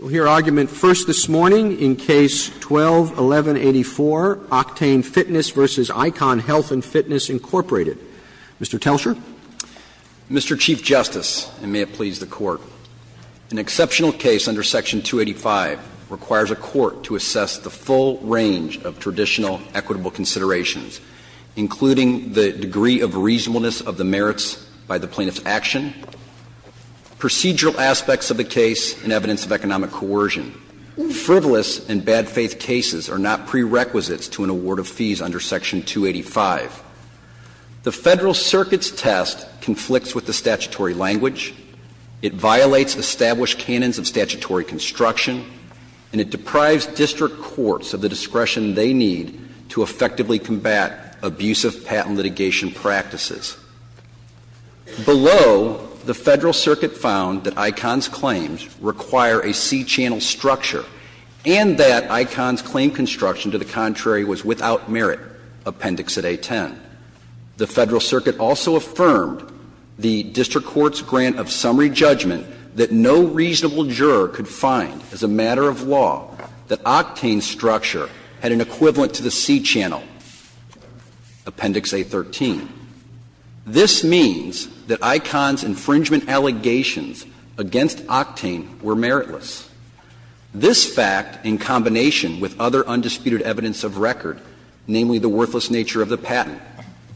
We'll hear argument first this morning in Case 12-1184, Octane Fitness v. Icon Health & Fitness, Incorporated. Mr. Telscher. Mr. Chief Justice, and may it please the Court, an exceptional case under Section 285 requires a court to assess the full range of traditional equitable considerations, including the degree of reasonableness of the merits by the plaintiff's action, procedural aspects of the case, and evidence of economic coercion. Frivolous and bad-faith cases are not prerequisites to an award of fees under Section 285. The Federal Circuit's test conflicts with the statutory language, it violates established canons of statutory construction, and it deprives district courts of the discretion they need to effectively combat abusive patent litigation practices. Below, the Federal Circuit found that Icon's claims require a C-channel structure and that Icon's claim construction, to the contrary, was without merit, Appendix at A-10. The Federal Circuit also affirmed the district court's grant of summary judgment that no reasonable juror could find as a matter of law that Octane's structure had an equivalent to the C-channel, Appendix A-13. This means that Icon's infringement allegations against Octane were meritless. This fact, in combination with other undisputed evidence of record, namely the worthless nature of the patent,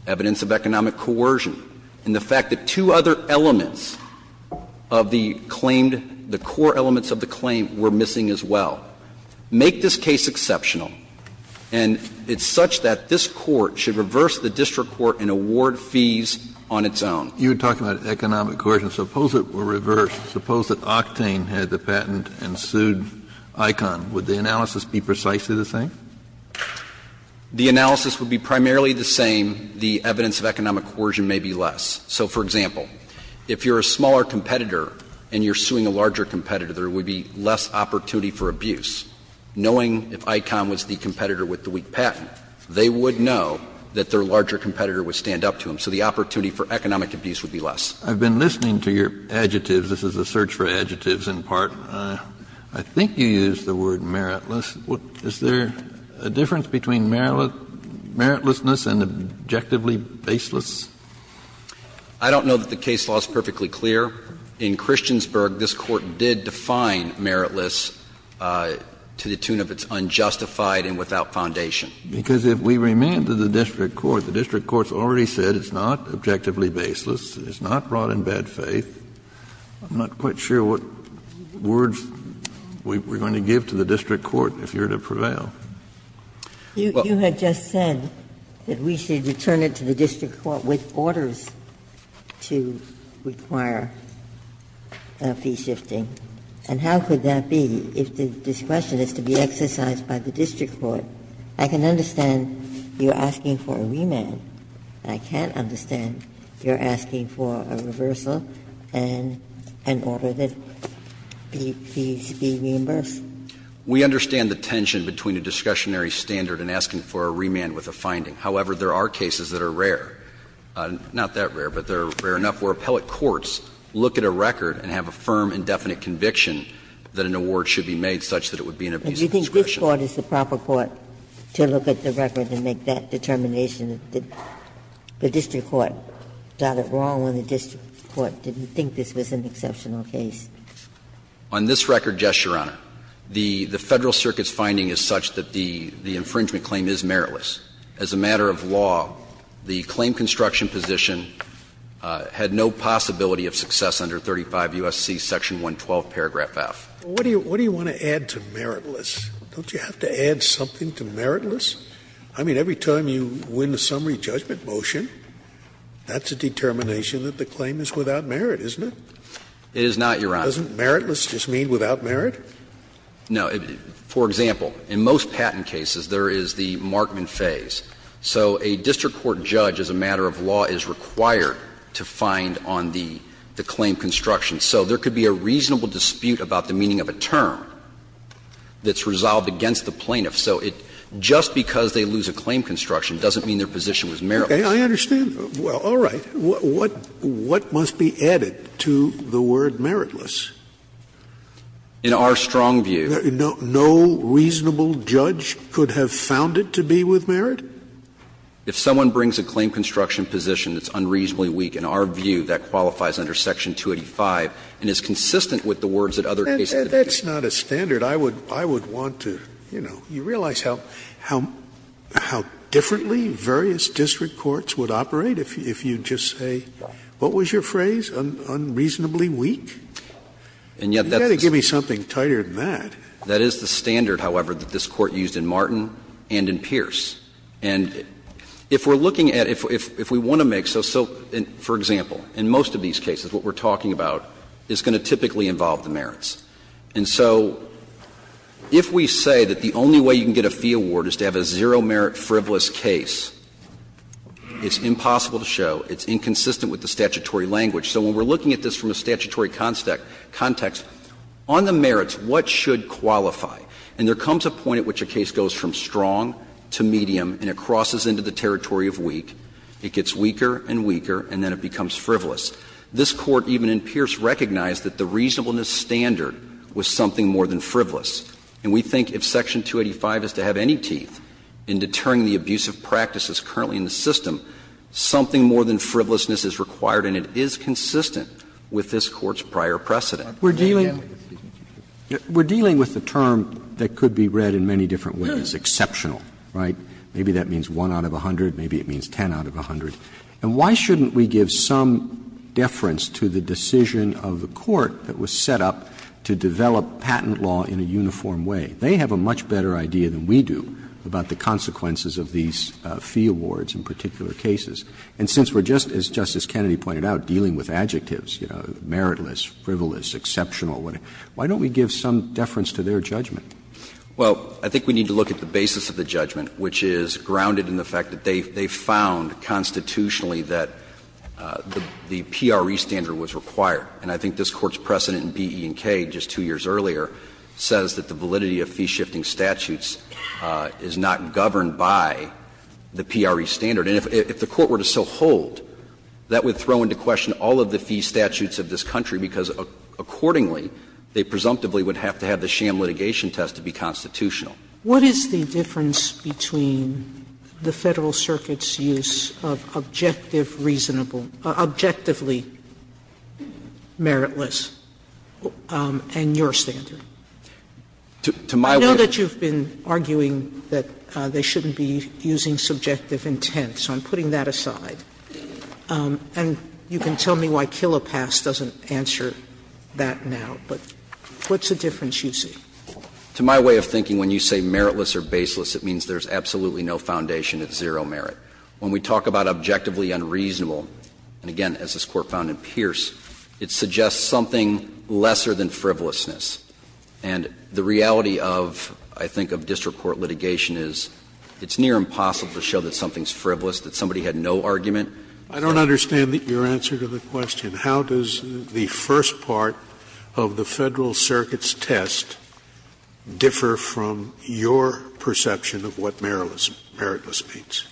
evidence of economic coercion, and the fact that two other elements of the claimed the core elements of the claim were missing as well, make this case exceptional. And it's such that this Court should reverse the district court and award fees on its own. Kennedy, you were talking about economic coercion. Suppose it were reversed. Suppose that Octane had the patent and sued Icon. Would the analysis be precisely the same? The analysis would be primarily the same. The evidence of economic coercion may be less. So, for example, if you're a smaller competitor and you're suing a larger competitor, there would be less opportunity for abuse. Knowing if Icon was the competitor with the weak patent, they would know that their larger competitor would stand up to them, so the opportunity for economic abuse would be less. Kennedy, I've been listening to your adjectives. This is a search for adjectives in part. I think you used the word meritless. Is there a difference between meritlessness and objectively baseless? I don't know that the case law is perfectly clear. In Christiansburg, this Court did define meritless to the tune of it's unjustified and without foundation. Kennedy, because if we remand to the district court, the district court's already said it's not objectively baseless, it's not brought in bad faith. I'm not quite sure what words we're going to give to the district court if you're to prevail. Ginsburg, you had just said that we should return it to the district court with orders to require fee shifting. And how could that be if this question is to be exercised by the district court? I can understand you're asking for a remand. I can't understand you're asking for a reversal and an order that fees be reimbursed. We understand the tension between a discussionary standard and asking for a remand with a finding. However, there are cases that are rare, not that rare, but they're rare enough where appellate courts look at a record and have a firm and definite conviction that an award should be made such that it would be an abuse of discretion. Ginsburg, do you think this Court is the proper court to look at the record and make that determination? The district court got it wrong when the district court didn't think this was an exceptional case. On this record, yes, Your Honor. The Federal Circuit's finding is such that the infringement claim is meritless. As a matter of law, the claim construction position had no possibility of success under 35 U.S.C. section 112 paragraph F. Scalia, what do you want to add to meritless? Don't you have to add something to meritless? I mean, every time you win the summary judgment motion, that's a determination that the claim is without merit, isn't it? It is not, Your Honor. Doesn't meritless just mean without merit? No. For example, in most patent cases, there is the markman phase. So a district court judge, as a matter of law, is required to find on the claim construction. So there could be a reasonable dispute about the meaning of a term that's resolved against the plaintiff. So it just because they lose a claim construction doesn't mean their position was meritless. Okay, I understand. All right. What must be added to the word meritless? In our strong view. No reasonable judge could have found it to be with merit? If someone brings a claim construction position that's unreasonably weak, in our view, that qualifies under section 285 and is consistent with the words that other cases have used. That's not a standard. I would want to, you know, you realize how differently various district courts would operate if you just say, what was your phrase, unreasonably weak? You've got to give me something tighter than that. That is the standard, however, that this Court used in Martin and in Pierce. And if we're looking at, if we want to make, so for example, in most of these cases what we're talking about is going to typically involve the merits. And so if we say that the only way you can get a fee award is to have a zero merit frivolous case, it's impossible to show, it's inconsistent with the statutory language. So when we're looking at this from a statutory context, on the merits, what should qualify? And there comes a point at which a case goes from strong to medium and it crosses into the territory of weak. It gets weaker and weaker, and then it becomes frivolous. This Court, even in Pierce, recognized that the reasonableness standard was something more than frivolous. And we think if section 285 is to have any teeth in deterring the abusive practices currently in the system, something more than frivolousness is required and it is consistent with this Court's prior precedent. Roberts We're dealing with the term that could be read in many different ways, exceptional, right? Maybe that means 1 out of 100, maybe it means 10 out of 100. And why shouldn't we give some deference to the decision of the court that was set up to develop patent law in a uniform way? They have a much better idea than we do about the consequences of these fee awards in particular cases. And since we're just, as Justice Kennedy pointed out, dealing with adjectives, you know, meritless, frivolous, exceptional, why don't we give some deference to their judgment? Well, I think we need to look at the basis of the judgment, which is grounded in the fact that they found constitutionally that the PRE standard was required. And I think this Court's precedent in B, E, and K just two years earlier says that the validity of fee-shifting statutes is not governed by the PRE standard. And if the Court were to so hold, that would throw into question all of the fee statutes of this country, because accordingly, they presumptively would have to have the sham litigation test to be constitutional. Sotomayor, what is the difference between the Federal Circuit's use of objective reasonable or objectively meritless and your standard? I know that you've been arguing that they shouldn't be using subjective intent so I'm putting that aside. And you can tell me why Kilopass doesn't answer that now, but what's the difference you see? To my way of thinking, when you say meritless or baseless, it means there's absolutely no foundation. It's zero merit. When we talk about objectively unreasonable, and again, as this Court found in Pierce, it suggests something lesser than frivolousness. And the reality of, I think, of district court litigation is it's near impossible to show that something's frivolous, that somebody had no argument. I don't understand your answer to the question. How does the first part of the Federal Circuit's test differ from your perception of what meritless means?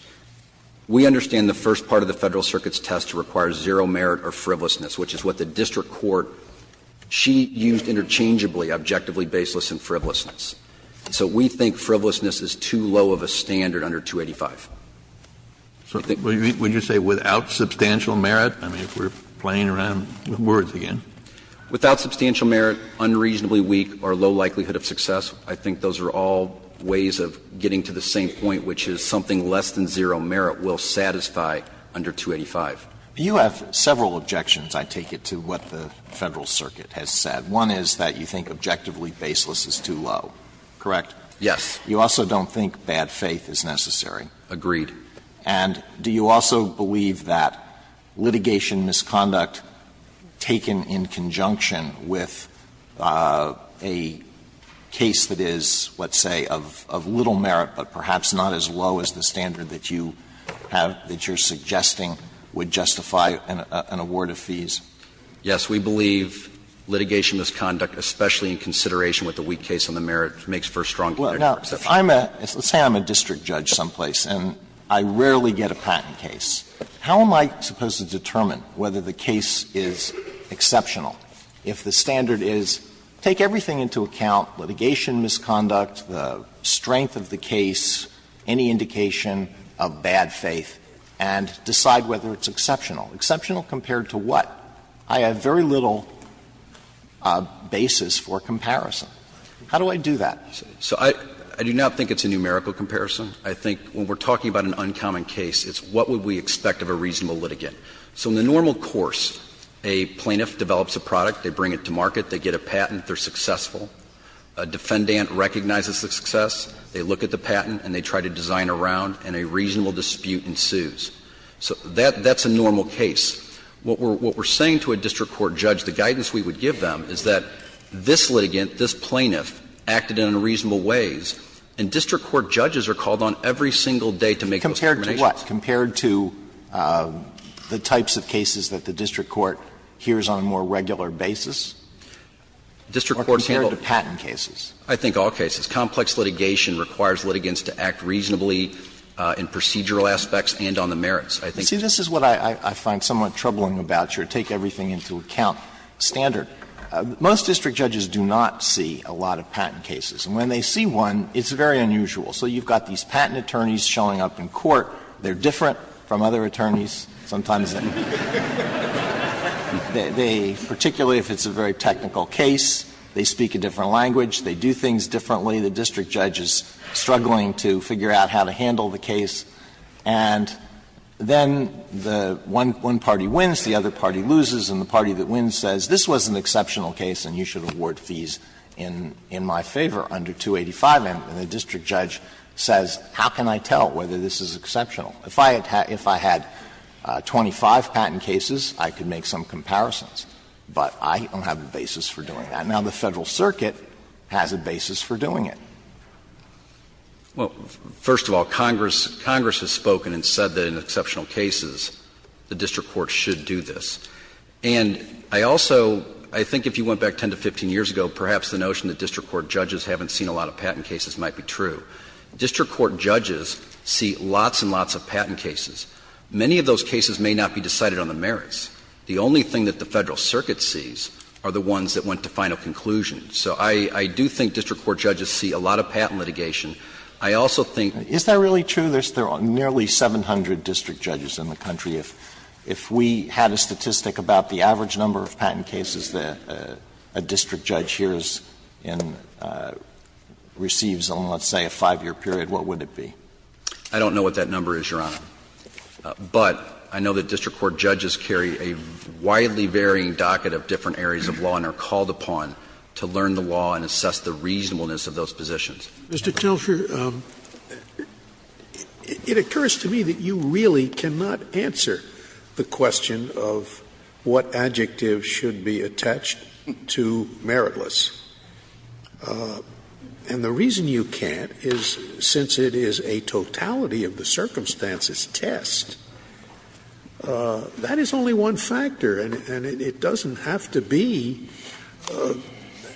We understand the first part of the Federal Circuit's test requires zero merit or frivolousness, which is what the district court, she used interchangeably objectively baseless and frivolousness. So we think frivolousness is too low of a standard under 285. Kennedy, would you say without substantial merit? I mean, if we're playing around with words again. Without substantial merit, unreasonably weak or low likelihood of success, I think those are all ways of getting to the same point, which is something less than zero merit will satisfy under 285. You have several objections, I take it, to what the Federal Circuit has said. One is that you think objectively baseless is too low. Correct? Yes. You also don't think bad faith is necessary. Agreed. And do you also believe that litigation misconduct taken in conjunction with a case that is, let's say, of little merit, but perhaps not as low as the standard that you have, that you're suggesting would justify an award of fees? Yes. We believe litigation misconduct, especially in consideration with the weak case on the basis of merit, makes for strong connection or exception. Now, let's say I'm a district judge someplace and I rarely get a patent case. How am I supposed to determine whether the case is exceptional if the standard is take everything into account, litigation misconduct, the strength of the case, any indication of bad faith, and decide whether it's exceptional? Exceptional compared to what? I have very little basis for comparison. How do I do that? So I do not think it's a numerical comparison. I think when we're talking about an uncommon case, it's what would we expect of a reasonable litigant. So in the normal course, a plaintiff develops a product, they bring it to market, they get a patent, they're successful. A defendant recognizes the success, they look at the patent and they try to design around, and a reasonable dispute ensues. So that's a normal case. What we're saying to a district court judge, the guidance we would give them is that this litigant, this plaintiff, acted in unreasonable ways, and district court judges are called on every single day to make those determinations. Compared to what? Compared to the types of cases that the district court hears on a more regular basis? Or compared to patent cases? I think all cases. Complex litigation requires litigants to act reasonably in procedural aspects and on the merits. I think this is what I find somewhat troubling about your take everything into account standard. Most district judges do not see a lot of patent cases. And when they see one, it's very unusual. So you've got these patent attorneys showing up in court. They're different from other attorneys. Sometimes they do. They, particularly if it's a very technical case, they speak a different language, they do things differently. The district judge is struggling to figure out how to handle the case. And then the one party wins, the other party loses, and the party that wins says, this was an exceptional case and you should award fees in my favor under 285. And the district judge says, how can I tell whether this is exceptional? If I had 25 patent cases, I could make some comparisons, but I don't have a basis for doing that. Now, the Federal Circuit has a basis for doing it. Well, first of all, Congress has spoken and said that in exceptional cases, the district court should do this. And I also, I think if you went back 10 to 15 years ago, perhaps the notion that district court judges haven't seen a lot of patent cases might be true. District court judges see lots and lots of patent cases. Many of those cases may not be decided on the merits. The only thing that the Federal Circuit sees are the ones that went to final conclusion. So I do think district court judges see a lot of patent litigation. I also think that's true. Is that really true? There are nearly 700 district judges in the country. If we had a statistic about the average number of patent cases that a district judge hears and receives on, let's say, a 5-year period, what would it be? I don't know what that number is, Your Honor. But I know that district court judges carry a widely varying docket of different areas of law and are called upon to learn the law and assess the reasonableness of those positions. Scalia. Mr. Kelsher, it occurs to me that you really cannot answer the question of what adjectives should be attached to meritless. And the reason you can't is since it is a totality of the circumstances test, that is only one factor, and it doesn't have to be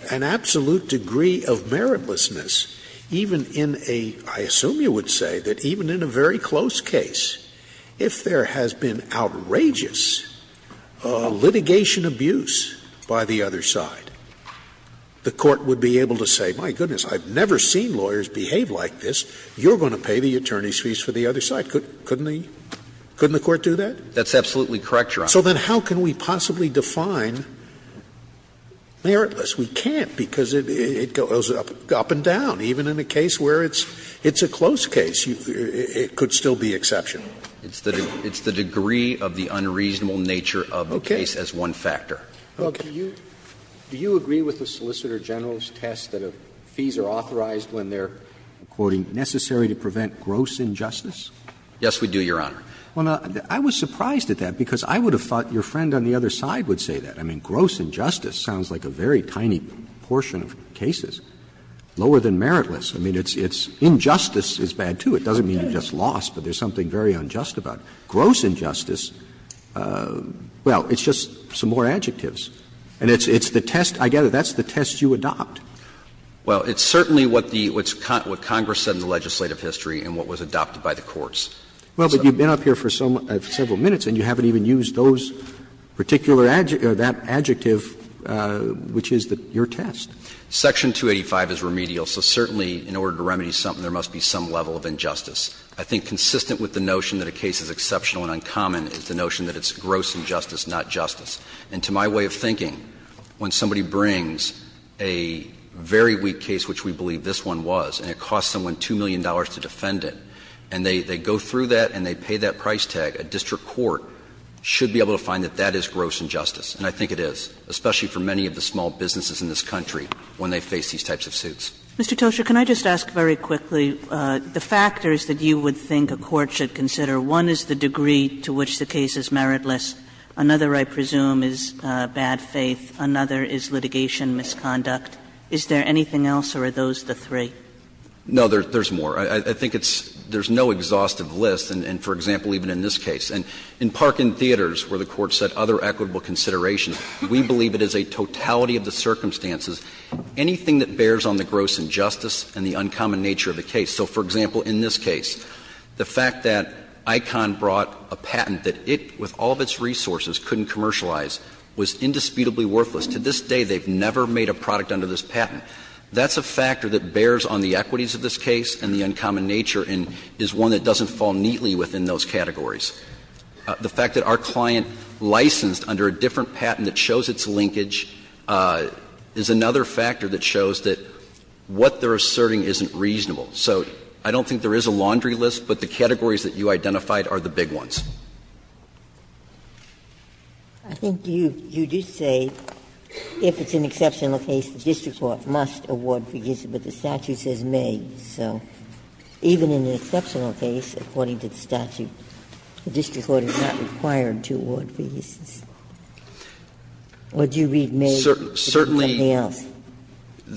an absolute degree of meritlessness even in a, I assume you would say, that even in a very close case, if there has been outrageous litigation abuse by the other side, the court would be able to say, my goodness, I've never seen lawyers behave like this. You're going to pay the attorney's fees for the other side. Couldn't the Court do that? That's absolutely correct, Your Honor. So then how can we possibly define meritless? We can't, because it goes up and down. Even in a case where it's a close case, it could still be exception. It's the degree of the unreasonable nature of the case as one factor. Well, do you agree with the Solicitor General's test that fees are authorized when they're, I'm quoting, "...necessary to prevent gross injustice"? Yes, we do, Your Honor. Well, I was surprised at that, because I would have thought your friend on the other side would say that. I mean, gross injustice sounds like a very tiny portion of cases, lower than meritless. I mean, injustice is bad, too. It doesn't mean you've just lost, but there's something very unjust about it. Gross injustice, well, it's just some more adjectives. And it's the test, I gather, that's the test you adopt. Well, it's certainly what Congress said in the legislative history and what was adopted by the courts. Well, but you've been up here for several minutes and you haven't even used those particular adjectives, that adjective, which is your test. Section 285 is remedial, so certainly in order to remedy something, there must be some level of injustice. I think consistent with the notion that a case is exceptional and uncommon is the notion that it's gross injustice, not justice. And to my way of thinking, when somebody brings a very weak case, which we believe this one was, and it costs someone $2 million to defend it, and they go through that and they pay that price tag, a district court should be able to find that that is gross injustice. And I think it is, especially for many of the small businesses in this country when they face these types of suits. Kagan Mr. Tosher, can I just ask very quickly the factors that you would think a court should consider? One is the degree to which the case is meritless. Another, I presume, is bad faith. Another is litigation misconduct. Is there anything else, or are those the three? Tosher No, there's more. I think it's — there's no exhaustive list, and for example, even in this case. And in Parkin Theaters, where the Court set other equitable considerations, we believe it is a totality of the circumstances. Anything that bears on the gross injustice and the uncommon nature of the case. So, for example, in this case, the fact that Icahn brought a patent that it, with all of its resources, couldn't commercialize, was indisputably worthless. That's a factor that bears on the equities of this case and the uncommon nature and is one that doesn't fall neatly within those categories. The fact that our client licensed under a different patent that shows its linkage is another factor that shows that what they're asserting isn't reasonable. So I don't think there is a laundry list, but the categories that you identified are the big ones. Ginsburg I think you did say, if it's an exceptional case, the district court must award forgiveness, but the statute says may. So even in an exceptional case, according to the statute, the district court is not required to award forgiveness. Or do you read may differently than anything else? Tosher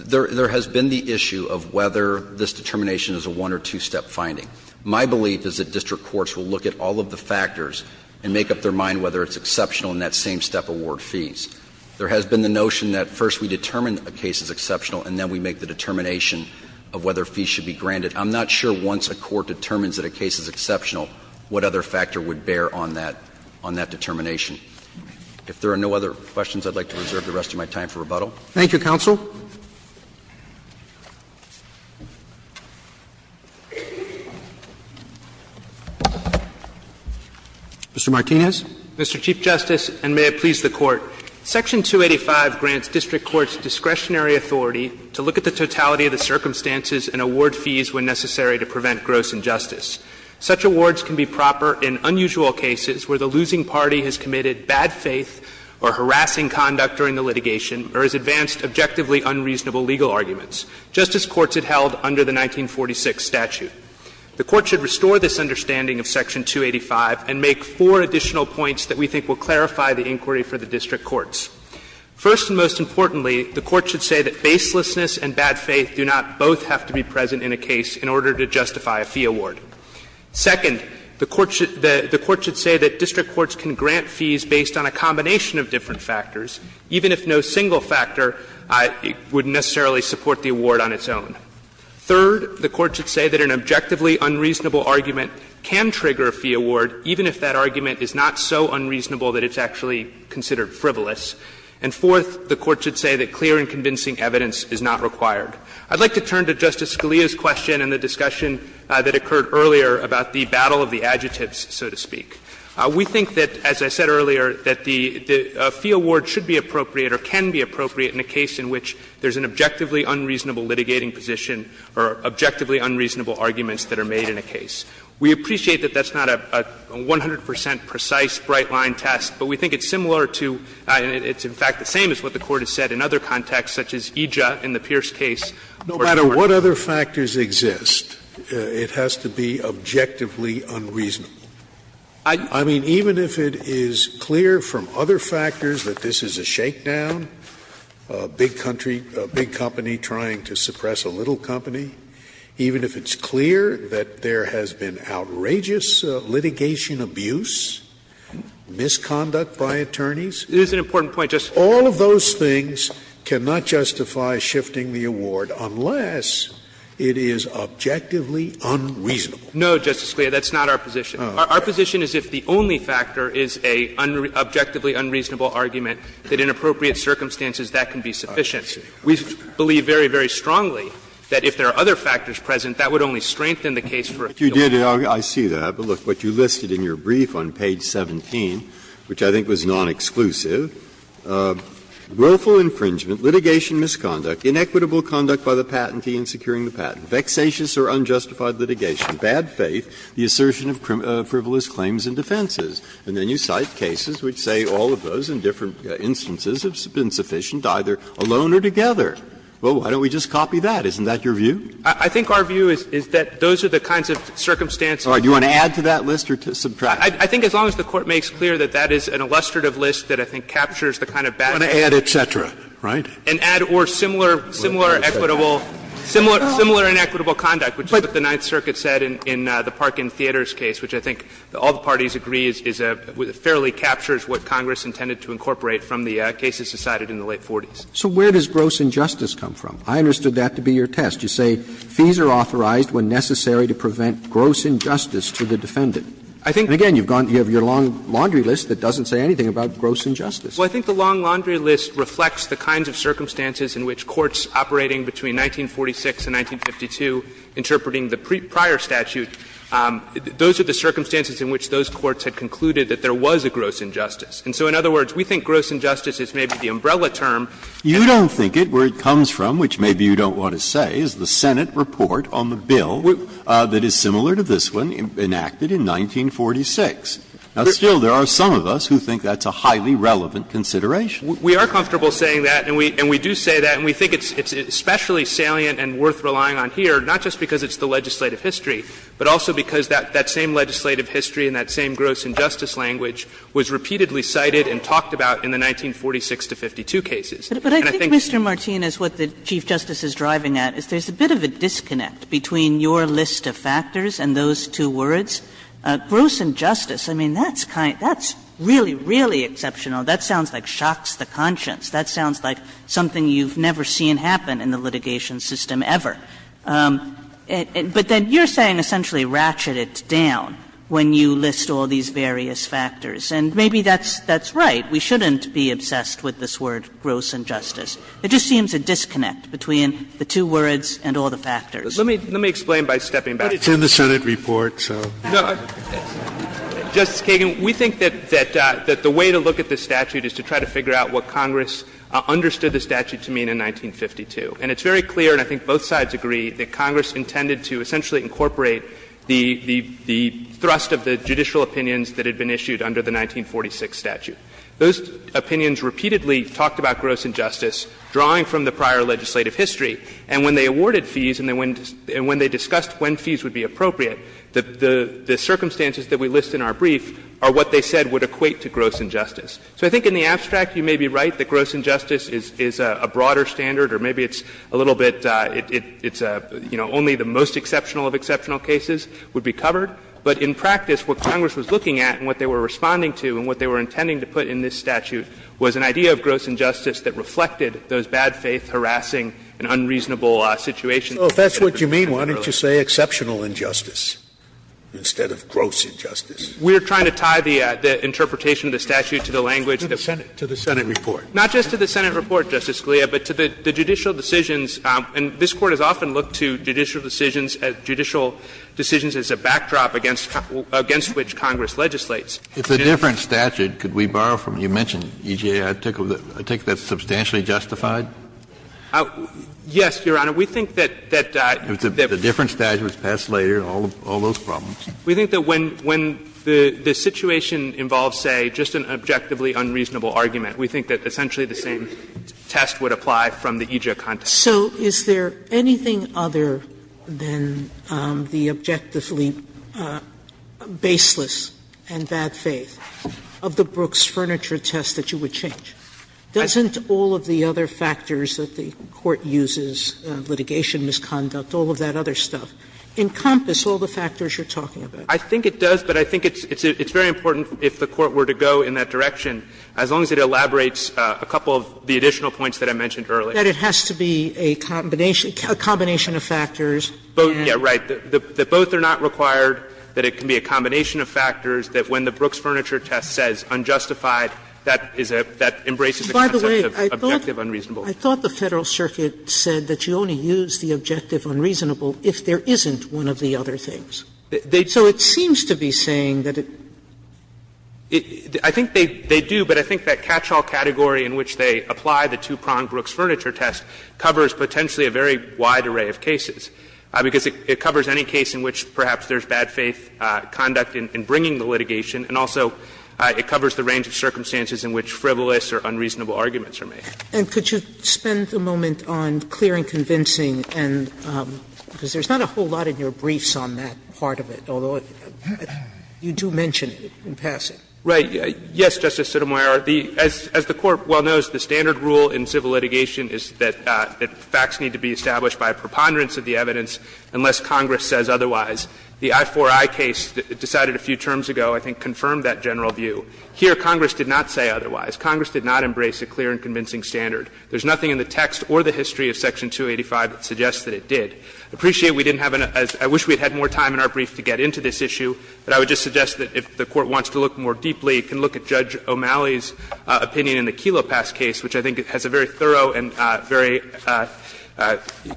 Certainly, there has been the issue of whether this determination is a one- or two-step finding. My belief is that district courts will look at all of the factors and make up their mind whether it's exceptional in that same-step award fees. There has been the notion that first we determine a case is exceptional and then we make the determination of whether fees should be granted. I'm not sure once a court determines that a case is exceptional what other factor would bear on that determination. If there are no other questions, I'd like to reserve the rest of my time for rebuttal. Roberts Thank you, counsel. Mr. Martinez. Martinez Mr. Chief Justice, and may it please the Court. Section 285 grants district courts discretionary authority to look at the totality of the circumstances and award fees when necessary to prevent gross injustice. Such awards can be proper in unusual cases where the losing party has committed bad faith or harassing conduct during the litigation or has advanced objectively unreasonable legal arguments, just as courts had held under the 1946 statute. The Court should restore this understanding of Section 285 and make four additional points that we think will clarify the inquiry for the district courts. First and most importantly, the Court should say that baselessness and bad faith do not both have to be present in a case in order to justify a fee award. Second, the Court should say that district courts can grant fees based on a combination of different factors, even if no single factor would necessarily support the award on its own. Third, the Court should say that an objectively unreasonable argument can trigger a fee award, even if that argument is not so unreasonable that it's actually considered frivolous. And fourth, the Court should say that clear and convincing evidence is not required. I'd like to turn to Justice Scalia's question and the discussion that occurred earlier about the battle of the adjectives, so to speak. We think that, as I said earlier, that the fee award should be appropriate or can be appropriate in a case in which there's an objectively unreasonable litigating position or objectively unreasonable arguments that are made in a case. We appreciate that that's not a 100 percent precise, bright-line test, but we think it's similar to and it's in fact the same as what the Court has said in other contexts such as EJA in the Pierce case. Scalia No matter what other factors exist, it has to be objectively unreasonable. I mean, even if it is clear from other factors that this is a shakedown, a big country or a big company trying to suppress a little company, even if it's clear that there has been outrageous litigation abuse, misconduct by attorneys, all of those things cannot justify shifting the award unless it is objectively unreasonable. Martinez No, Justice Scalia, that's not our position. Our position is if the only factor is an objectively unreasonable argument, that in appropriate circumstances that can be sufficient. We believe very, very strongly that if there are other factors present, that would only strengthen the case for a few minutes. Breyer I see that. But look, what you listed in your brief on page 17, which I think was non-exclusive, willful infringement, litigation misconduct, inequitable conduct by the patentee in securing the patent, vexatious or unjustified litigation, bad faith, the assertion of frivolous claims and defenses. And then you cite cases which say all of those in different instances have been sufficient either alone or together. Well, why don't we just copy that? Isn't that your view? I think our view is that those are the kinds of circumstances. All right. Do you want to add to that list or subtract? I think as long as the Court makes clear that that is an illustrative list that I think captures the kind of bad faith. Scalia I want to add et cetera, right? And add or similar, similar equitable, similar inequitable conduct, which is what the Ninth Circuit said in the Parkin Theaters case, which I think all the parties agree fairly captures what Congress intended to incorporate from the cases decided in the late 40s. So where does gross injustice come from? I understood that to be your test. You say fees are authorized when necessary to prevent gross injustice to the defendant. And again, you have your long laundry list that doesn't say anything about gross injustice. Well, I think the long laundry list reflects the kinds of circumstances in which courts operating between 1946 and 1952, interpreting the prior statute, those are the circumstances in which those courts had concluded that there was a gross injustice. And so in other words, we think gross injustice is maybe the umbrella term. You don't think it. Where it comes from, which maybe you don't want to say, is the Senate report on the 1946. Now, still, there are some of us who think that's a highly relevant consideration. We are comfortable saying that, and we do say that, and we think it's especially salient and worth relying on here, not just because it's the legislative history, but also because that same legislative history and that same gross injustice language was repeatedly cited and talked about in the 1946 to 1952 cases. And I think that's what the Chief Justice is driving at, is there's a bit of a disconnect between your list of factors and those two words. Gross injustice, I mean, that's kind of – that's really, really exceptional. That sounds like shocks the conscience. That sounds like something you've never seen happen in the litigation system ever. But then you're saying essentially ratchet it down when you list all these various factors, and maybe that's right. We shouldn't be obsessed with this word gross injustice. It just seems a disconnect between the two words and all the factors. Let me explain by stepping back. But it's in the Senate report, so. Justice Kagan, we think that the way to look at this statute is to try to figure out what Congress understood the statute to mean in 1952. And it's very clear, and I think both sides agree, that Congress intended to essentially incorporate the thrust of the judicial opinions that had been issued under the 1946 statute. Those opinions repeatedly talked about gross injustice, drawing from the prior legislative history, and when they awarded fees and when they discussed when fees would be appropriate, the circumstances that we list in our brief are what they said would equate to gross injustice. So I think in the abstract you may be right that gross injustice is a broader standard, or maybe it's a little bit – it's, you know, only the most exceptional of exceptional cases would be covered. But in practice, what Congress was looking at and what they were responding to and what they were intending to put in this statute was an idea of gross injustice that reflected those bad faith, harassing, and unreasonable situations. Scalia, if that's what you mean, why don't you say exceptional injustice instead of gross injustice? We are trying to tie the interpretation of the statute to the language that we're saying. To the Senate report. Not just to the Senate report, Justice Scalia, but to the judicial decisions. And this Court has often looked to judicial decisions as a backdrop against which Congress legislates. Kennedy, if the difference statute, could we borrow from it? You mentioned EJ. I take that's substantially justified? Yes, Your Honor. We think that that the difference statute was passed later, all those problems. We think that when the situation involves, say, just an objectively unreasonable argument, we think that essentially the same test would apply from the EJ context. Sotomayor, so is there anything other than the objectively baseless and bad faith of the Brooks furniture test that you would change? Doesn't all of the other factors that the Court uses, litigation misconduct, all of that other stuff, encompass all the factors you're talking about? I think it does, but I think it's very important if the Court were to go in that direction, as long as it elaborates a couple of the additional points that I mentioned earlier. That it has to be a combination, a combination of factors, and. Yeah, right. That both are not required, that it can be a combination of factors, that when the Brooks furniture test says unjustified, that is a, that embraces the concept of objective unreasonable. I thought the Federal Circuit said that you only use the objective unreasonable if there isn't one of the other things. So it seems to be saying that it. I think they do, but I think that catch-all category in which they apply the two-prong Brooks furniture test covers potentially a very wide array of cases, because it covers any case in which perhaps there's bad faith conduct in bringing the litigation, and also it covers the range of circumstances in which frivolous or unreasonable arguments are made. And could you spend a moment on clear and convincing, and because there's not a whole lot in your briefs on that part of it, although you do mention it in passing. Right. Yes, Justice Sotomayor. As the Court well knows, the standard rule in civil litigation is that facts need to be established by a preponderance of the evidence unless Congress says otherwise. The I-4-I case decided a few terms ago, I think, confirmed that general view. Here, Congress did not say otherwise. Congress did not embrace a clear and convincing standard. There's nothing in the text or the history of Section 285 that suggests that it did. I appreciate we didn't have enough as — I wish we had had more time in our brief to get into this issue, but I would just suggest that if the Court wants to look more deeply, it can look at Judge O'Malley's opinion in the Kelo Pass case, which I think has a very thorough and very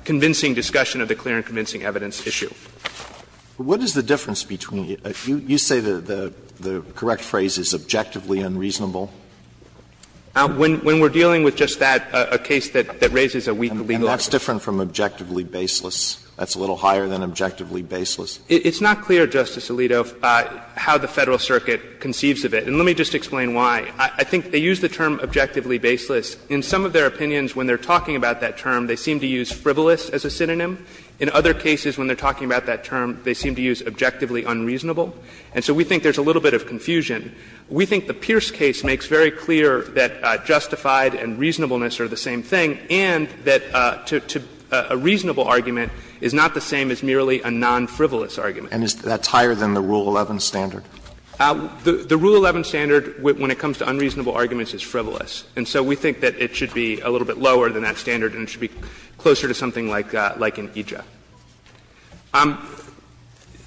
convincing discussion of the clear and convincing evidence issue. Alito, when we're dealing with just that, a case that raises a weak legal argument. And that's different from objectively baseless. That's a little higher than objectively baseless. It's not clear, Justice Alito, how the Federal Circuit conceives of it. And let me just explain why. I think they use the term objectively baseless. In some of their opinions, when they're talking about that term, they seem to use frivolous as a synonym. In other cases, when they're talking about that term, they seem to use objectively unreasonable. And so we think there's a little bit of confusion. We think the Pierce case makes very clear that justified and reasonableness are the same thing and that a reasonable argument is not the same as merely a non-frivolous argument. Alito, and that's higher than the Rule 11 standard? The Rule 11 standard, when it comes to unreasonable arguments, is frivolous. And so we think that it should be a little bit lower than that standard and it should be closer to something like an EJIA.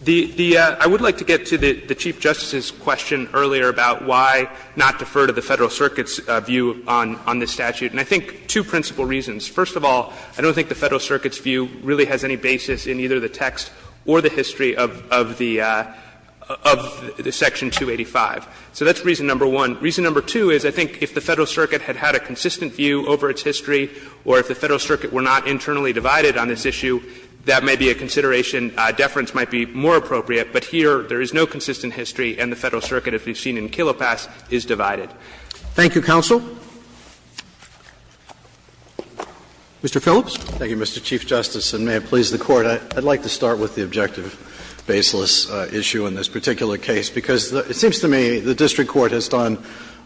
The — I would like to get to the Chief Justice's question earlier about why not defer to the Federal Circuit's view on this statute. And I think two principal reasons. First of all, I don't think the Federal Circuit's view really has any basis in either the text or the history of the — of the Section 285. So that's reason number one. Reason number two is I think if the Federal Circuit had had a consistent view over its history or if the Federal Circuit were not internally divided on this issue, that may be a consideration. Deference might be more appropriate, but here there is no consistent history and the Federal Circuit, as we've seen in Kilopass, is divided. Thank you, counsel. Mr. Phillips. Thank you, Mr. Chief Justice, and may it please the Court. I'd like to start with the objective baseless issue in this particular case, because it seems to me the district court has done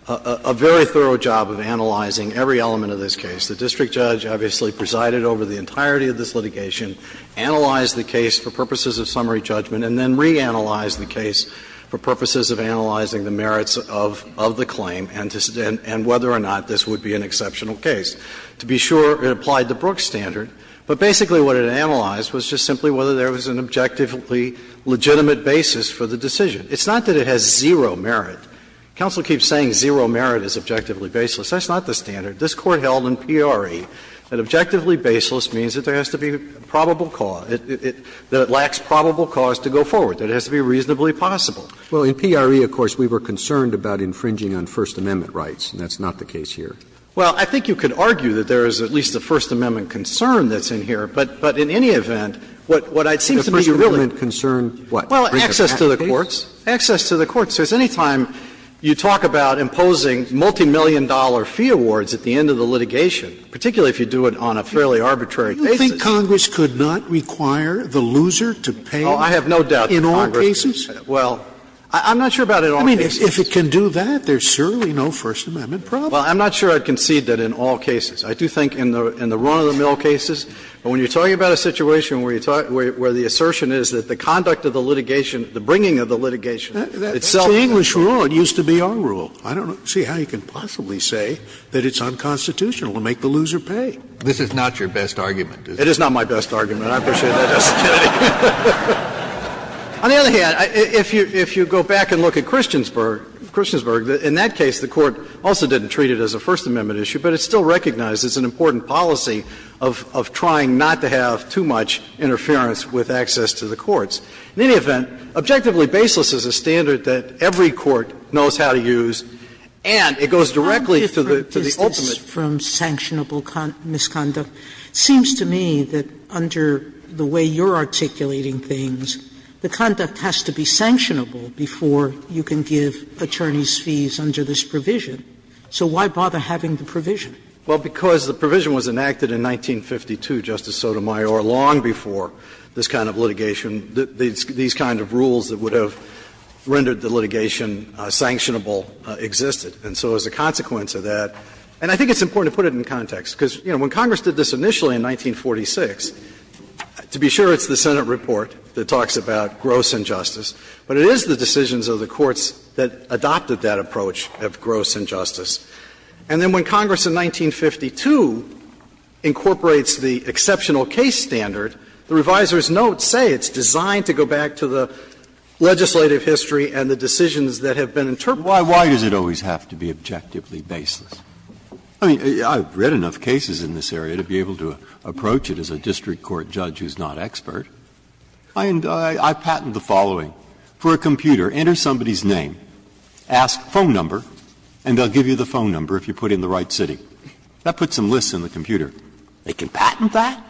a very thorough job of analyzing every element of this case. The district judge obviously presided over the entirety of this litigation, analyzed the case for purposes of summary judgment, and then reanalyzed the case for purposes of analyzing the merits of the claim and whether or not this would be an exceptional case. To be sure, it applied the Brooks standard, but basically what it analyzed was just simply whether there was an objectively legitimate basis for the decision. It's not that it has zero merit. Counsel keeps saying zero merit is objectively baseless. That's not the standard. This Court held in PRE that objectively baseless means that there has to be probable cause, that it lacks probable cause to go forward, that it has to be reasonably possible. Well, in PRE, of course, we were concerned about infringing on First Amendment rights, and that's not the case here. Well, I think you could argue that there is at least a First Amendment concern that's in here, but in any event, what I'd seem to be really concerned about is access Well, access to the courts. Access to the courts. Because any time you talk about imposing multimillion-dollar fee awards at the end of the litigation, particularly if you do it on a fairly arbitrary basis. Do you think Congress could not require the loser to pay in all cases? Well, I'm not sure about in all cases. I mean, if it can do that, there's surely no First Amendment problem. Well, I'm not sure I'd concede that in all cases. I do think in the run-of-the-mill cases. But when you're talking about a situation where the assertion is that the conduct of the litigation, the bringing of the litigation, itself is a rule. That's the English rule. It used to be our rule. I don't see how you can possibly say that it's unconstitutional to make the loser pay. This is not your best argument, is it? It is not my best argument. I appreciate that, Justice Kennedy. On the other hand, if you go back and look at Christiansburg, in that case the Court also didn't treat it as a First Amendment issue, but it still recognizes an important policy of trying not to have too much interference with access to the courts. In any event, objectively baseless is a standard that every court knows how to use, and it goes directly to the ultimate. Sotomayor, how different is this from sanctionable misconduct? It seems to me that under the way you're articulating things, the conduct has to be sanctionable before you can give attorneys fees under this provision. So why bother having the provision? Well, because the provision was enacted in 1952, Justice Sotomayor, long before this kind of litigation, these kind of rules that would have rendered the litigation sanctionable existed. And so as a consequence of that, and I think it's important to put it in context, because, you know, when Congress did this initially in 1946, to be sure it's the Senate report that talks about gross injustice, but it is the decisions of the courts that adopted that approach of gross injustice. And then when Congress in 1952 incorporates the exceptional case standard, the reviser's notes say it's designed to go back to the legislative history and the decisions that have been interpreted. Breyer, why does it always have to be objectively baseless? I mean, I've read enough cases in this area to be able to approach it as a district court judge who's not expert. I patent the following. For a computer, enter somebody's name, ask phone number, and they'll give you the phone number if you put it in the right city. That puts some lists in the computer. They can patent that?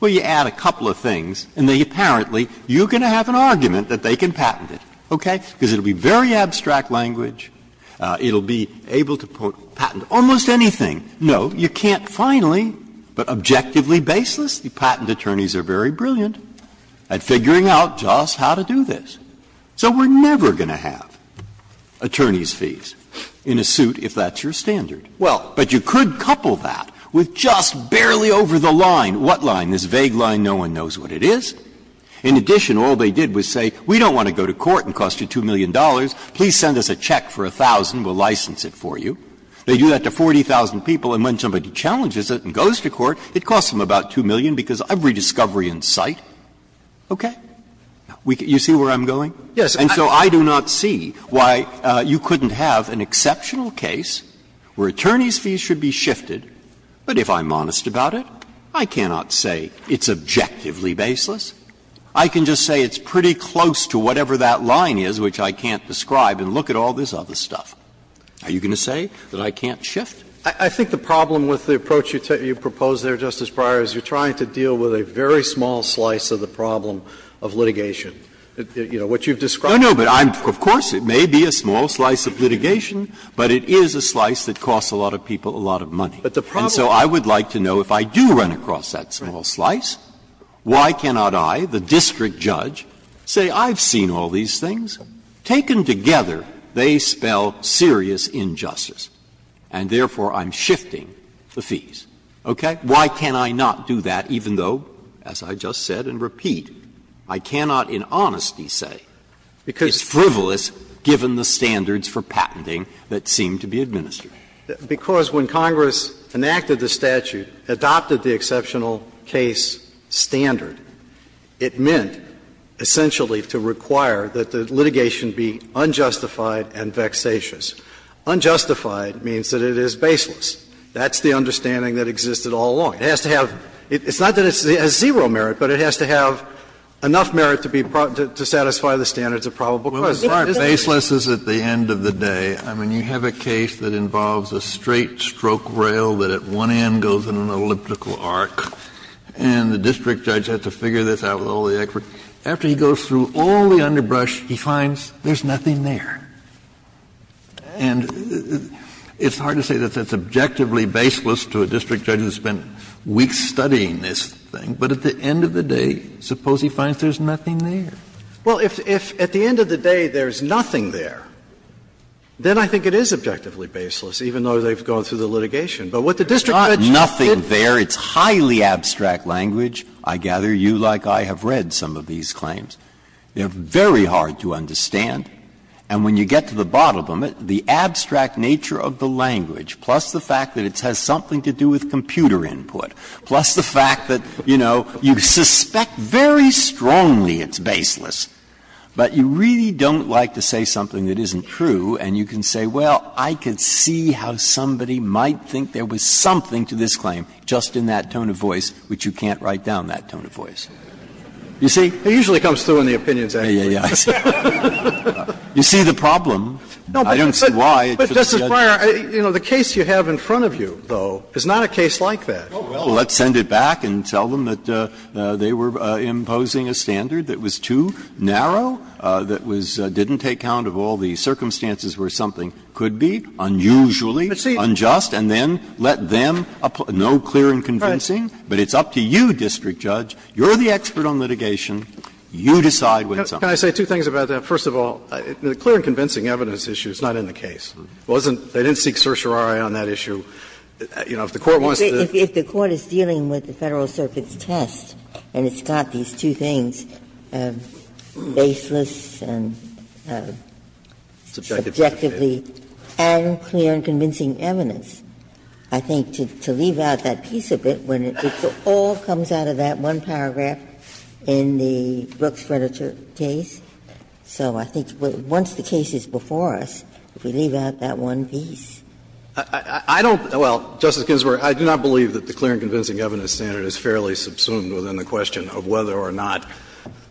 Well, you add a couple of things, and they apparently, you're going to have an argument that they can patent it, okay? Because it will be very abstract language, it will be able to patent almost anything. No, you can't finally, but objectively baseless, the patent attorneys are very brilliant. And figuring out just how to do this. So we're never going to have attorneys' fees in a suit if that's your standard. Well, but you could couple that with just barely over the line. What line? This vague line no one knows what it is. In addition, all they did was say, we don't want to go to court and cost you $2 million. Please send us a check for 1,000, we'll license it for you. They do that to 40,000 people, and when somebody challenges it and goes to court, it costs them about $2 million because of every discovery in sight, okay? You see where I'm going? Yes. And so I do not see why you couldn't have an exceptional case where attorneys' fees should be shifted, but if I'm honest about it, I cannot say it's objectively baseless. I can just say it's pretty close to whatever that line is, which I can't describe, and look at all this other stuff. Are you going to say that I can't shift? I think the problem with the approach you proposed there, Justice Breyer, is you're trying to deal with a very small slice of the problem of litigation. You know, what you've described. No, no, but I'm of course it may be a small slice of litigation, but it is a slice that costs a lot of people a lot of money. But the problem is. And so I would like to know if I do run across that small slice, why cannot I, the district judge, say I've seen all these things? Taken together, they spell serious injustice. And therefore, I'm shifting the fees. Okay? Why can I not do that, even though, as I just said and repeat, I cannot in honesty say it's frivolous given the standards for patenting that seem to be administered? Because when Congress enacted the statute, adopted the exceptional case standard, it meant essentially to require that the litigation be unjustified and vexatious. Unjustified means that it is baseless. That's the understanding that existed all along. It has to have – it's not that it has zero merit, but it has to have enough merit to be – to satisfy the standards of probable cause. Kennedy, this is a case that involves a straight stroke rail that at one end goes in an elliptical arc, and the district judge has to figure this out with all the effort. After he goes through all the underbrush, he finds there's nothing there. And it's hard to say that that's objectively baseless to a district judge who spent weeks studying this thing, but at the end of the day, suppose he finds there's nothing there. Well, if at the end of the day there's nothing there, then I think it is objectively baseless, even though they've gone through the litigation. But what the district judge did – There's not nothing there. It's highly abstract language. I gather you, like I, have read some of these claims. They're very hard to understand. And when you get to the bottom of it, the abstract nature of the language, plus the fact that it has something to do with computer input, plus the fact that, you know, you suspect very strongly it's baseless, but you really don't like to say something that isn't true, and you can say, well, I could see how somebody might think there was something to this claim just in that tone of voice, which you can't write down that tone of voice. You see? It usually comes through in the opinions afterwards. Breyer, you know, the case you have in front of you, though, is not a case like that. Well, let's send it back and tell them that they were imposing a standard that was too narrow, that was – didn't take count of all the circumstances where something could be unusually unjust, and then let them – no clear and convincing, but it's up to you, district judge. You decide what's up. Can I say two things about that? First of all, the clear and convincing evidence issue is not in the case. It wasn't – they didn't seek certiorari on that issue. You know, if the Court wants to do it. If the Court is dealing with the Federal Circuit's test and it's got these two things, baseless and subjectively, and clear and convincing evidence, I think to leave out that piece of it, when it all comes out of that one paragraph in the Brooks Furniture case, so I think once the case is before us, if we leave out that one piece. I don't – well, Justice Ginsburg, I do not believe that the clear and convincing evidence standard is fairly subsumed within the question of whether or not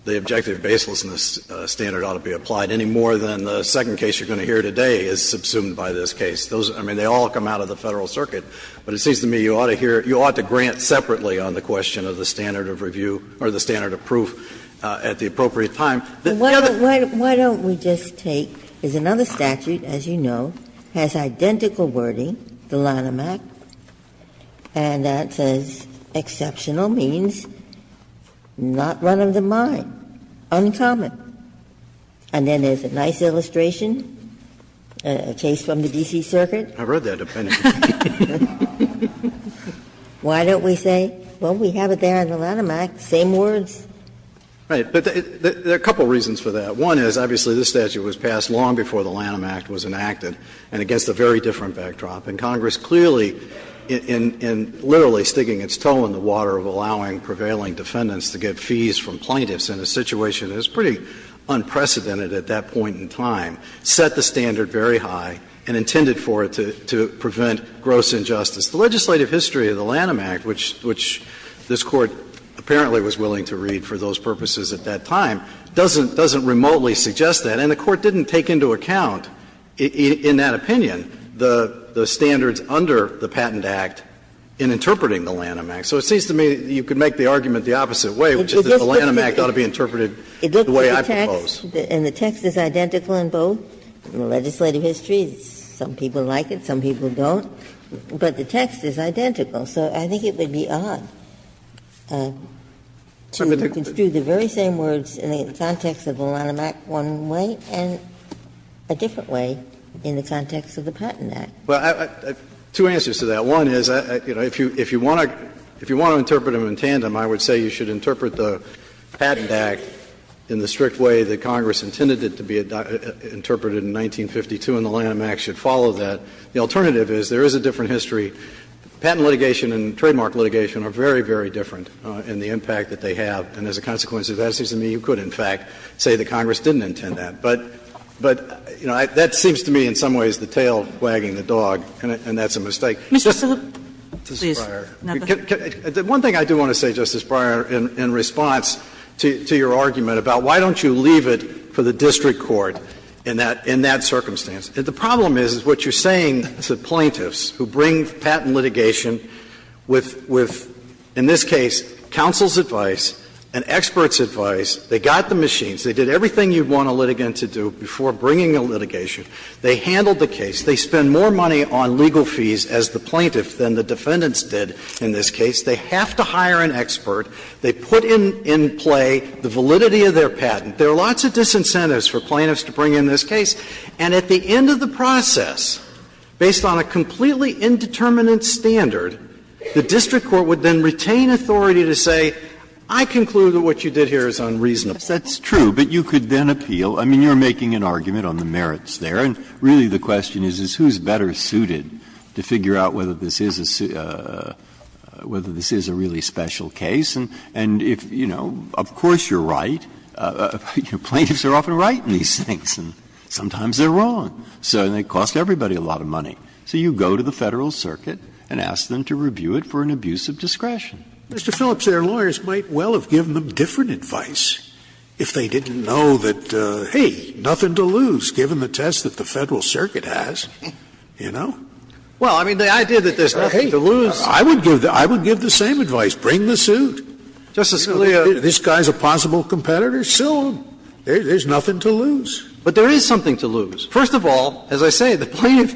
the objective baselessness standard ought to be applied any more than the second case you're going to hear today is subsumed by this case. Those – I mean, they all come out of the Federal Circuit, but it seems to me you ought to hear – you ought to grant separately on the question of the standard of review or the standard of proof at the appropriate time. Ginsburg, why don't we just take – there's another statute, as you know, has identical wording, the Lanham Act, and that says exceptional means not one of the mind, uncommon. And then there's a nice illustration, a case from the D.C. Circuit. Phillips, I've read that opinion. Why don't we say, well, we have it there in the Lanham Act, same words? Right. But there are a couple reasons for that. One is, obviously, this statute was passed long before the Lanham Act was enacted and against a very different backdrop. And Congress clearly, in literally sticking its toe in the water of allowing prevailing defendants to get fees from plaintiffs in a situation that is pretty unprecedented at that point in time, set the standard very high and intended for it to prevent gross injustice. The legislative history of the Lanham Act, which this Court apparently was willing to read for those purposes at that time, doesn't remotely suggest that. And the Court didn't take into account, in that opinion, the standards under the Patent Act in interpreting the Lanham Act. So it seems to me you could make the argument the opposite way, which is that the Lanham Act ought to be interpreted the way I propose. Ginsburg-Miller And the text is identical in both, in the legislative history. Some people like it, some people don't. But the text is identical. So I think it would be odd to construe the very same words in the context of the Lanham Act one way and a different way in the context of the Patent Act. Phillips Two answers to that. One is, you know, if you want to interpret them in tandem, I would say you should interpret the Patent Act in the strict way that Congress intended it to be interpreted in 1952, and the Lanham Act should follow that. The alternative is there is a different history. Patent litigation and trademark litigation are very, very different in the impact that they have. And as a consequence, it seems to me you could, in fact, say that Congress didn't intend that. But, you know, that seems to me in some ways the tail wagging the dog, and that's a mistake. Kagan Mr. Phillips, please. Phillips One thing I do want to say, Justice Breyer, in response to your argument about why don't you leave it for the district court in that circumstance. The problem is, is what you're saying to plaintiffs who bring patent litigation with, in this case, counsel's advice and experts' advice, they got the machines, they did everything you'd want a litigant to do before bringing a litigation, they handled the case, they spend more money on legal fees as the plaintiff than the defendants did in this case, they have to hire an expert, they put in play the validity of their patent. There are lots of disincentives for plaintiffs to bring in this case, and at the end of the process, based on a completely indeterminate standard, the district court would then retain authority to say, I conclude that what you did here is unreasonable. Breyer That's true, but you could then appeal. I mean, you're making an argument on the merits there, and really the question is, is who's better suited to figure out whether this is a really special case. And if, you know, of course you're right. Plaintiffs are often right in these things, and sometimes they're wrong. So it costs everybody a lot of money. So you go to the Federal Circuit and ask them to review it for an abuse of discretion. Scalia, Mr. Phillips, their lawyers might well have given them different advice if they didn't know that, hey, nothing to lose given the test that the Federal Circuit has, you know? Phillips Well, I mean, the idea that there's nothing to lose. Scalia I would give the same advice, bring the suit. Phillips Justice Scalia. Scalia This guy's a possible competitor, sue him. There's nothing to lose. Phillips But there is something to lose. First of all, as I say, the plaintiff,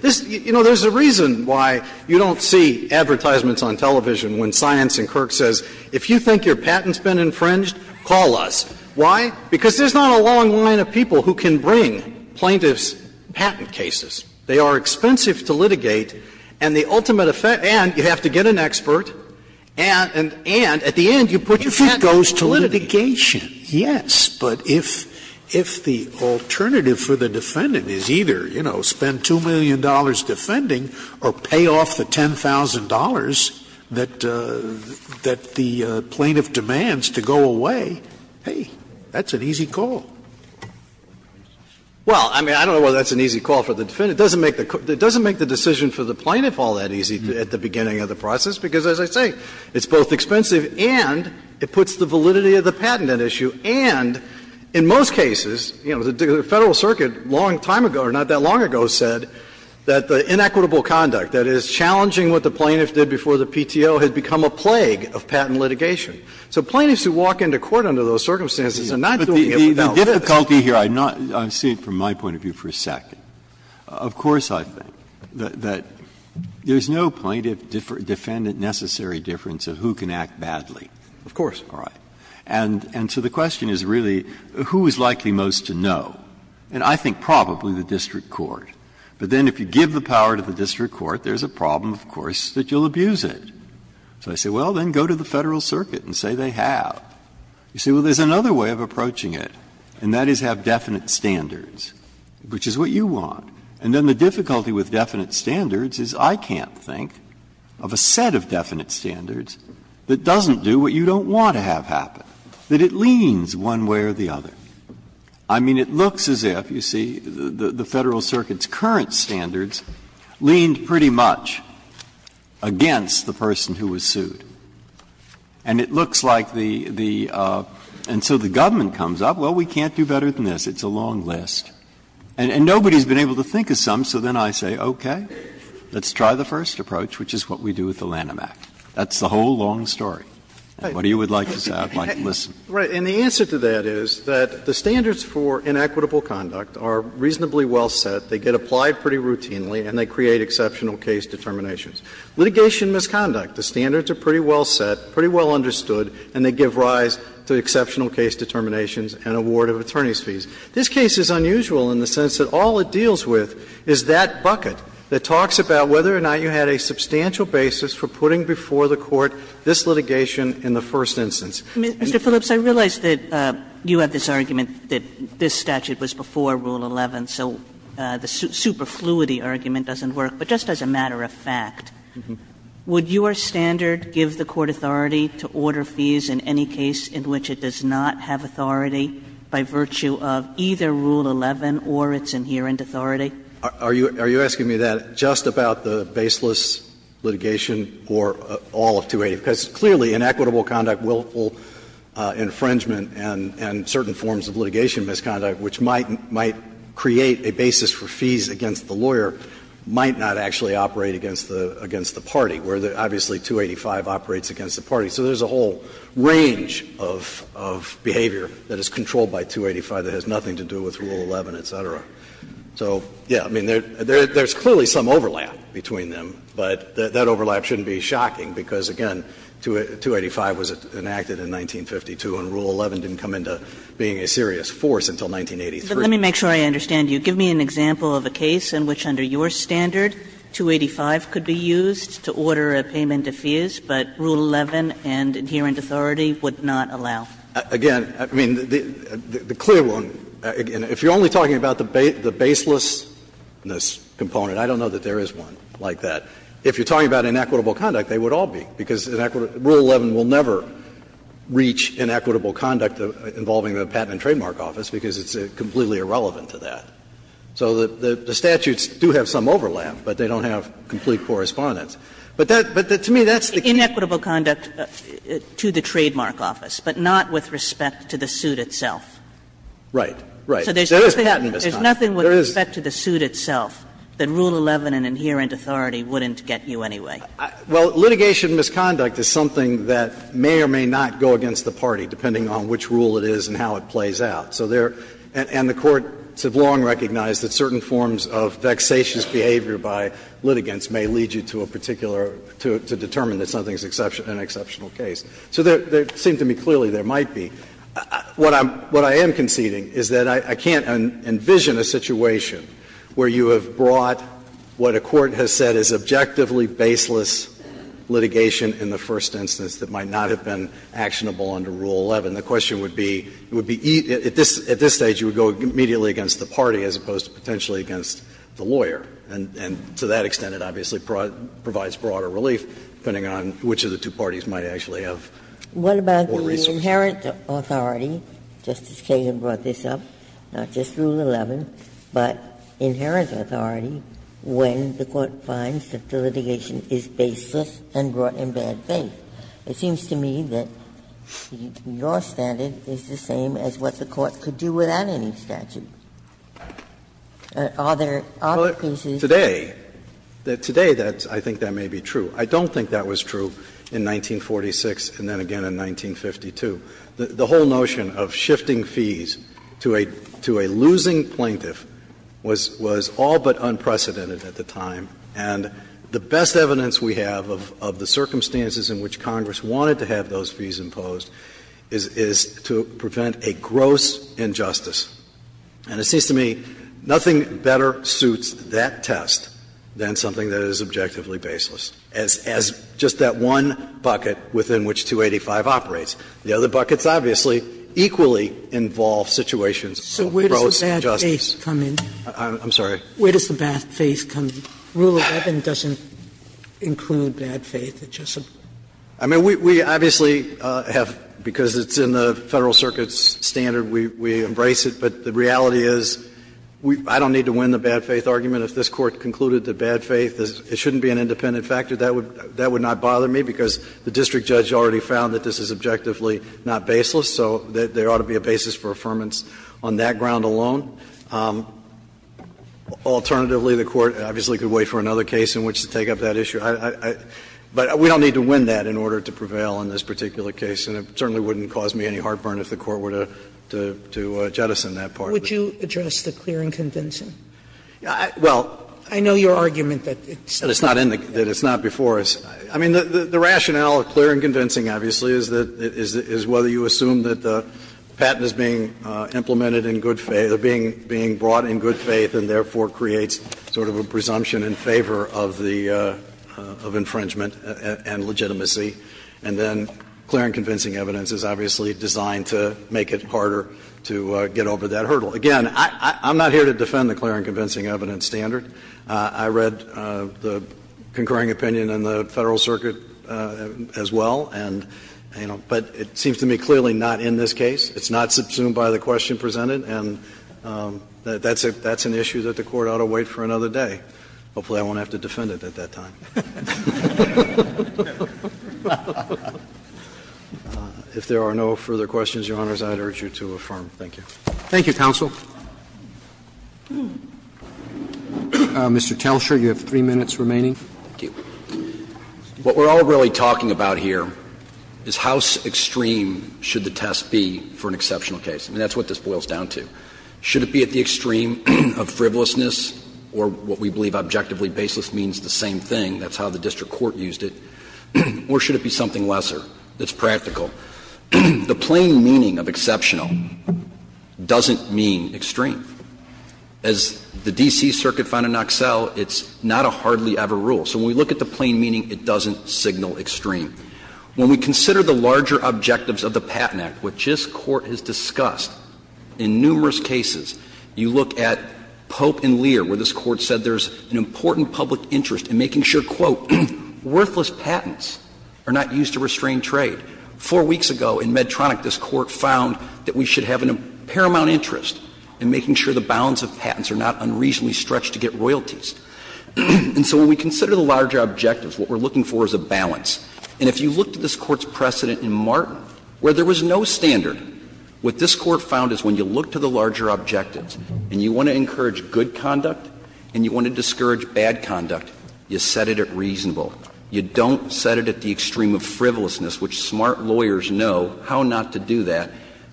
this, you know, there's a reason why you don't see advertisements on television when Science and Kirk says, if you think your patent's been infringed, call us. Why? Because there's not a long line of people who can bring plaintiffs' patent cases. They are expensive to litigate, and the ultimate effect, and you have to get an expert, and at the end, you put your patent in litigation. Scalia If it goes to litigation, yes. But if the alternative for the defendant is either, you know, spend $2 million defending or pay off the $10,000 that the plaintiff demands to go away, hey, that's an easy call. Phillips Well, I mean, I don't know whether that's an easy call for the defendant. It doesn't make the decision for the plaintiff all that easy at the beginning of the process, because as I say, it's both expensive and it puts the validity of the patent at issue. And in most cases, you know, the Federal Circuit a long time ago, or not that long ago, said that the inequitable conduct, that is, challenging what the plaintiff did before the PTO, had become a plague of patent litigation. So plaintiffs who walk into court under those circumstances are not doing it without this. Breyer But the difficulty here, I'm not going to say it from my point of view for a second. Of course, I think that there is no plaintiff defendant necessary difference of who can act badly. Phillips Of course. Breyer All right. And so the question is really, who is likely most to know? And I think probably the district court. But then if you give the power to the district court, there is a problem, of course, that you will abuse it. So I say, well, then go to the Federal Circuit and say they have. You say, well, there is another way of approaching it, and that is have definite standards, which is what you want. And then the difficulty with definite standards is I can't think of a set of definite standards that doesn't do what you don't want to have happen, that it leans one way or the other. I mean, it looks as if, you see, the Federal Circuit's current standards leaned pretty much against the person who was sued. And it looks like the the and so the government comes up, well, we can't do better than this, it's a long list. And nobody has been able to think of some, so then I say, okay, let's try the first approach, which is what we do with the Lanham Act. That's the whole long story. What do you would like to say? I'd like to listen. Phillips Right. And the answer to that is that the standards for inequitable conduct are reasonably well set. They get applied pretty routinely, and they create exceptional case determinations. Litigation misconduct, the standards are pretty well set, pretty well understood, and they give rise to exceptional case determinations and award of attorney's fees. This case is unusual in the sense that all it deals with is that bucket that talks about whether or not you had a substantial basis for putting before the Court this litigation in the first instance. Kagan Mr. Phillips, I realize that you have this argument that this statute was before Rule 11. So the superfluity argument doesn't work. But just as a matter of fact, would your standard give the Court authority to order fees in any case in which it does not have authority by virtue of either Rule 11 or its inherent authority? Phillips Are you asking me that just about the baseless litigation or all of 280? Because clearly inequitable conduct, willful infringement, and certain forms of litigation misconduct, which might create a basis for fees against the lawyer, might not actually operate against the party, where obviously 285 operates against the party. So there's a whole range of behavior that is controlled by 285 that has nothing to do with Rule 11, et cetera. So, yes, I mean, there's clearly some overlap between them, but that overlap shouldn't be shocking, because, again, 285 was enacted in 1952, and Rule 11 didn't come into being a serious force until 1983. Kagan But let me make sure I understand you. Give me an example of a case in which under your standard, 285 could be used to order a payment of fees, but Rule 11 and inherent authority would not allow. Phillips Again, I mean, the clear one, if you're only talking about the baselessness component, I don't know that there is one like that. If you're talking about inequitable conduct, they would all be, because Rule 11 will never reach inequitable conduct involving the Patent and Trademark Office, because it's completely irrelevant to that. So the statutes do have some overlap, but they don't have complete correspondence. But to me, that's the key. Kagan Inequitable conduct to the Trademark Office, but not with respect to the suit itself. Phillips Right. Right. There is patent misconduct. Kagan There's nothing with respect to the suit itself that Rule 11 and inherent authority wouldn't get you anyway. Phillips Well, litigation misconduct is something that may or may not go against the party, depending on which rule it is and how it plays out. So there – and the courts have long recognized that certain forms of vexatious behavior by litigants may lead you to a particular – to determine that something is an exceptional case. So there seem to me clearly there might be. What I'm – what I am conceding is that I can't envision a situation where you have brought what a court has said is objectively baseless litigation in the first instance that might not have been actionable under Rule 11. The question would be, it would be – at this stage, you would go immediately against the party, as opposed to potentially against the lawyer. And to that extent, it obviously provides broader relief, depending on which of the two parties might actually have more resources. Ginsburg What about the inherent authority? Justice Kagan brought this up. Not just Rule 11, but inherent authority when the court finds that the litigation is baseless and brought in bad faith. It seems to me that your standard is the same as what the court could do without any statute. Are there other cases? Phillips Today, today I think that may be true. I don't think that was true in 1946 and then again in 1952. The whole notion of shifting fees to a – to a losing plaintiff was – was all but unprecedented at the time. And the best evidence we have of the circumstances in which Congress wanted to have those fees imposed is to prevent a gross injustice. And it seems to me nothing better suits that test than something that is objectively baseless, as just that one bucket within which 285 operates. The other buckets obviously equally involve situations of gross injustice. Sotomayor So where does the bad faith come in? Phillips I'm sorry? Sotomayor Where does the bad faith come in? Rule 11 doesn't include bad faith. It just – Phillips I mean, we obviously have, because it's in the Federal Circuit's standard, we embrace it. But the reality is, I don't need to win the bad faith argument. If this Court concluded that bad faith shouldn't be an independent factor, that would not bother me, because the district judge already found that this is objectively not baseless. So there ought to be a basis for affirmance on that ground alone. Alternatively, the Court obviously could wait for another case in which to take up that issue. But we don't need to win that in order to prevail in this particular case, and it certainly wouldn't cause me any heartburn if the Court were to – to jettison that part. Sotomayor Would you address the clearing convincing? Phillips Well, I know your argument that it's not in the case. It's not before us. I mean, the rationale of clear and convincing, obviously, is that – is whether you assume that the patent is being implemented in good – being brought in good faith and therefore creates sort of a presumption in favor of the – of infringement and legitimacy, and then clear and convincing evidence is obviously designed to make it harder to get over that hurdle. Again, I'm not here to defend the clear and convincing evidence standard. I read the concurring opinion in the Federal Circuit as well, and, you know, but it seems to me clearly not in this case. It's not subsumed by the question presented, and that's an issue that the Court ought to wait for another day. Hopefully I won't have to defend it at that time. If there are no further questions, Your Honors, I'd urge you to affirm. Thank you. Roberts Thank you, counsel. Mr. Telscher, you have three minutes remaining. Telscher Thank you. What we're all really talking about here is how extreme should the test be for an exceptional case, and that's what this boils down to. Should it be at the extreme of frivolousness or what we believe objectively baseless means the same thing, that's how the district court used it, or should it be something lesser that's practical? The plain meaning of exceptional doesn't mean extreme. As the D.C. Circuit found in Knoxell, it's not a hardly ever rule. So when we look at the plain meaning, it doesn't signal extreme. When we consider the larger objectives of the Patent Act, which this Court has discussed, in numerous cases you look at Pope and Lear, where this Court said there's an important public interest in making sure, quote, worthless patents are not used to restrain trade. Four weeks ago in Medtronic, this Court found that we should have a paramount interest in making sure the bounds of patents are not unreasonably stretched to get royalties. And so when we consider the larger objectives, what we're looking for is a balance. And if you look at this Court's precedent in Martin, where there was no standard, what this Court found is when you look to the larger objectives and you want to encourage good conduct and you want to discourage bad conduct, you set it at reasonable. You don't set it at the extreme of frivolousness, which smart lawyers know how not to do that,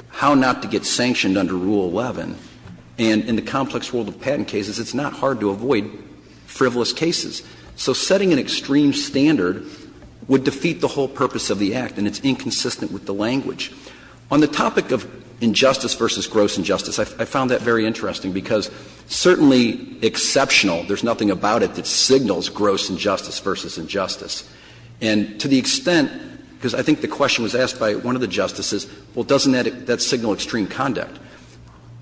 how not to get sanctioned under Rule 11. And in the complex world of patent cases, it's not hard to avoid frivolous cases. So setting an extreme standard would defeat the whole purpose of the Act, and it's inconsistent with the language. On the topic of injustice versus gross injustice, I found that very interesting, because certainly exceptional, there's nothing about it that signals gross injustice versus injustice. And to the extent, because I think the question was asked by one of the justices, well, doesn't that signal extreme conduct?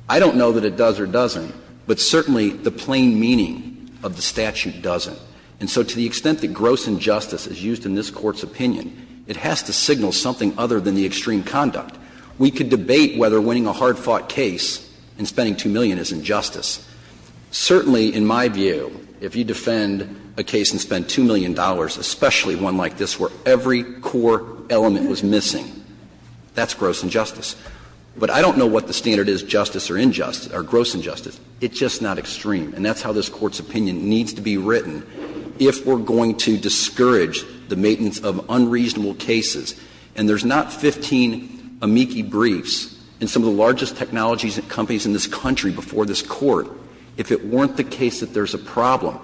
I don't know that it does or doesn't, but certainly the plain meaning of the statute doesn't. And so to the extent that gross injustice is used in this Court's opinion, it has to signal something other than the extreme conduct. We could debate whether winning a hard-fought case and spending 2 million is injustice. Certainly, in my view, if you defend a case and spend $2 million, especially one like this where every core element was missing, that's gross injustice. But I don't know what the standard is, justice or injustice, or gross injustice. It's just not extreme. And that's how this Court's opinion needs to be written if we're going to discourage the maintenance of unreasonable cases. And there's not 15 amici briefs in some of the largest technologies and companies in this country before this Court if it weren't the case that there's a problem.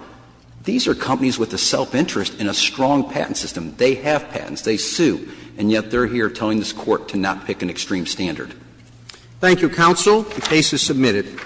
These are companies with a self-interest and a strong patent system. They have patents. They sue. And yet they're here telling this Court to not pick an extreme standard. Roberts. Thank you, counsel. The case is submitted.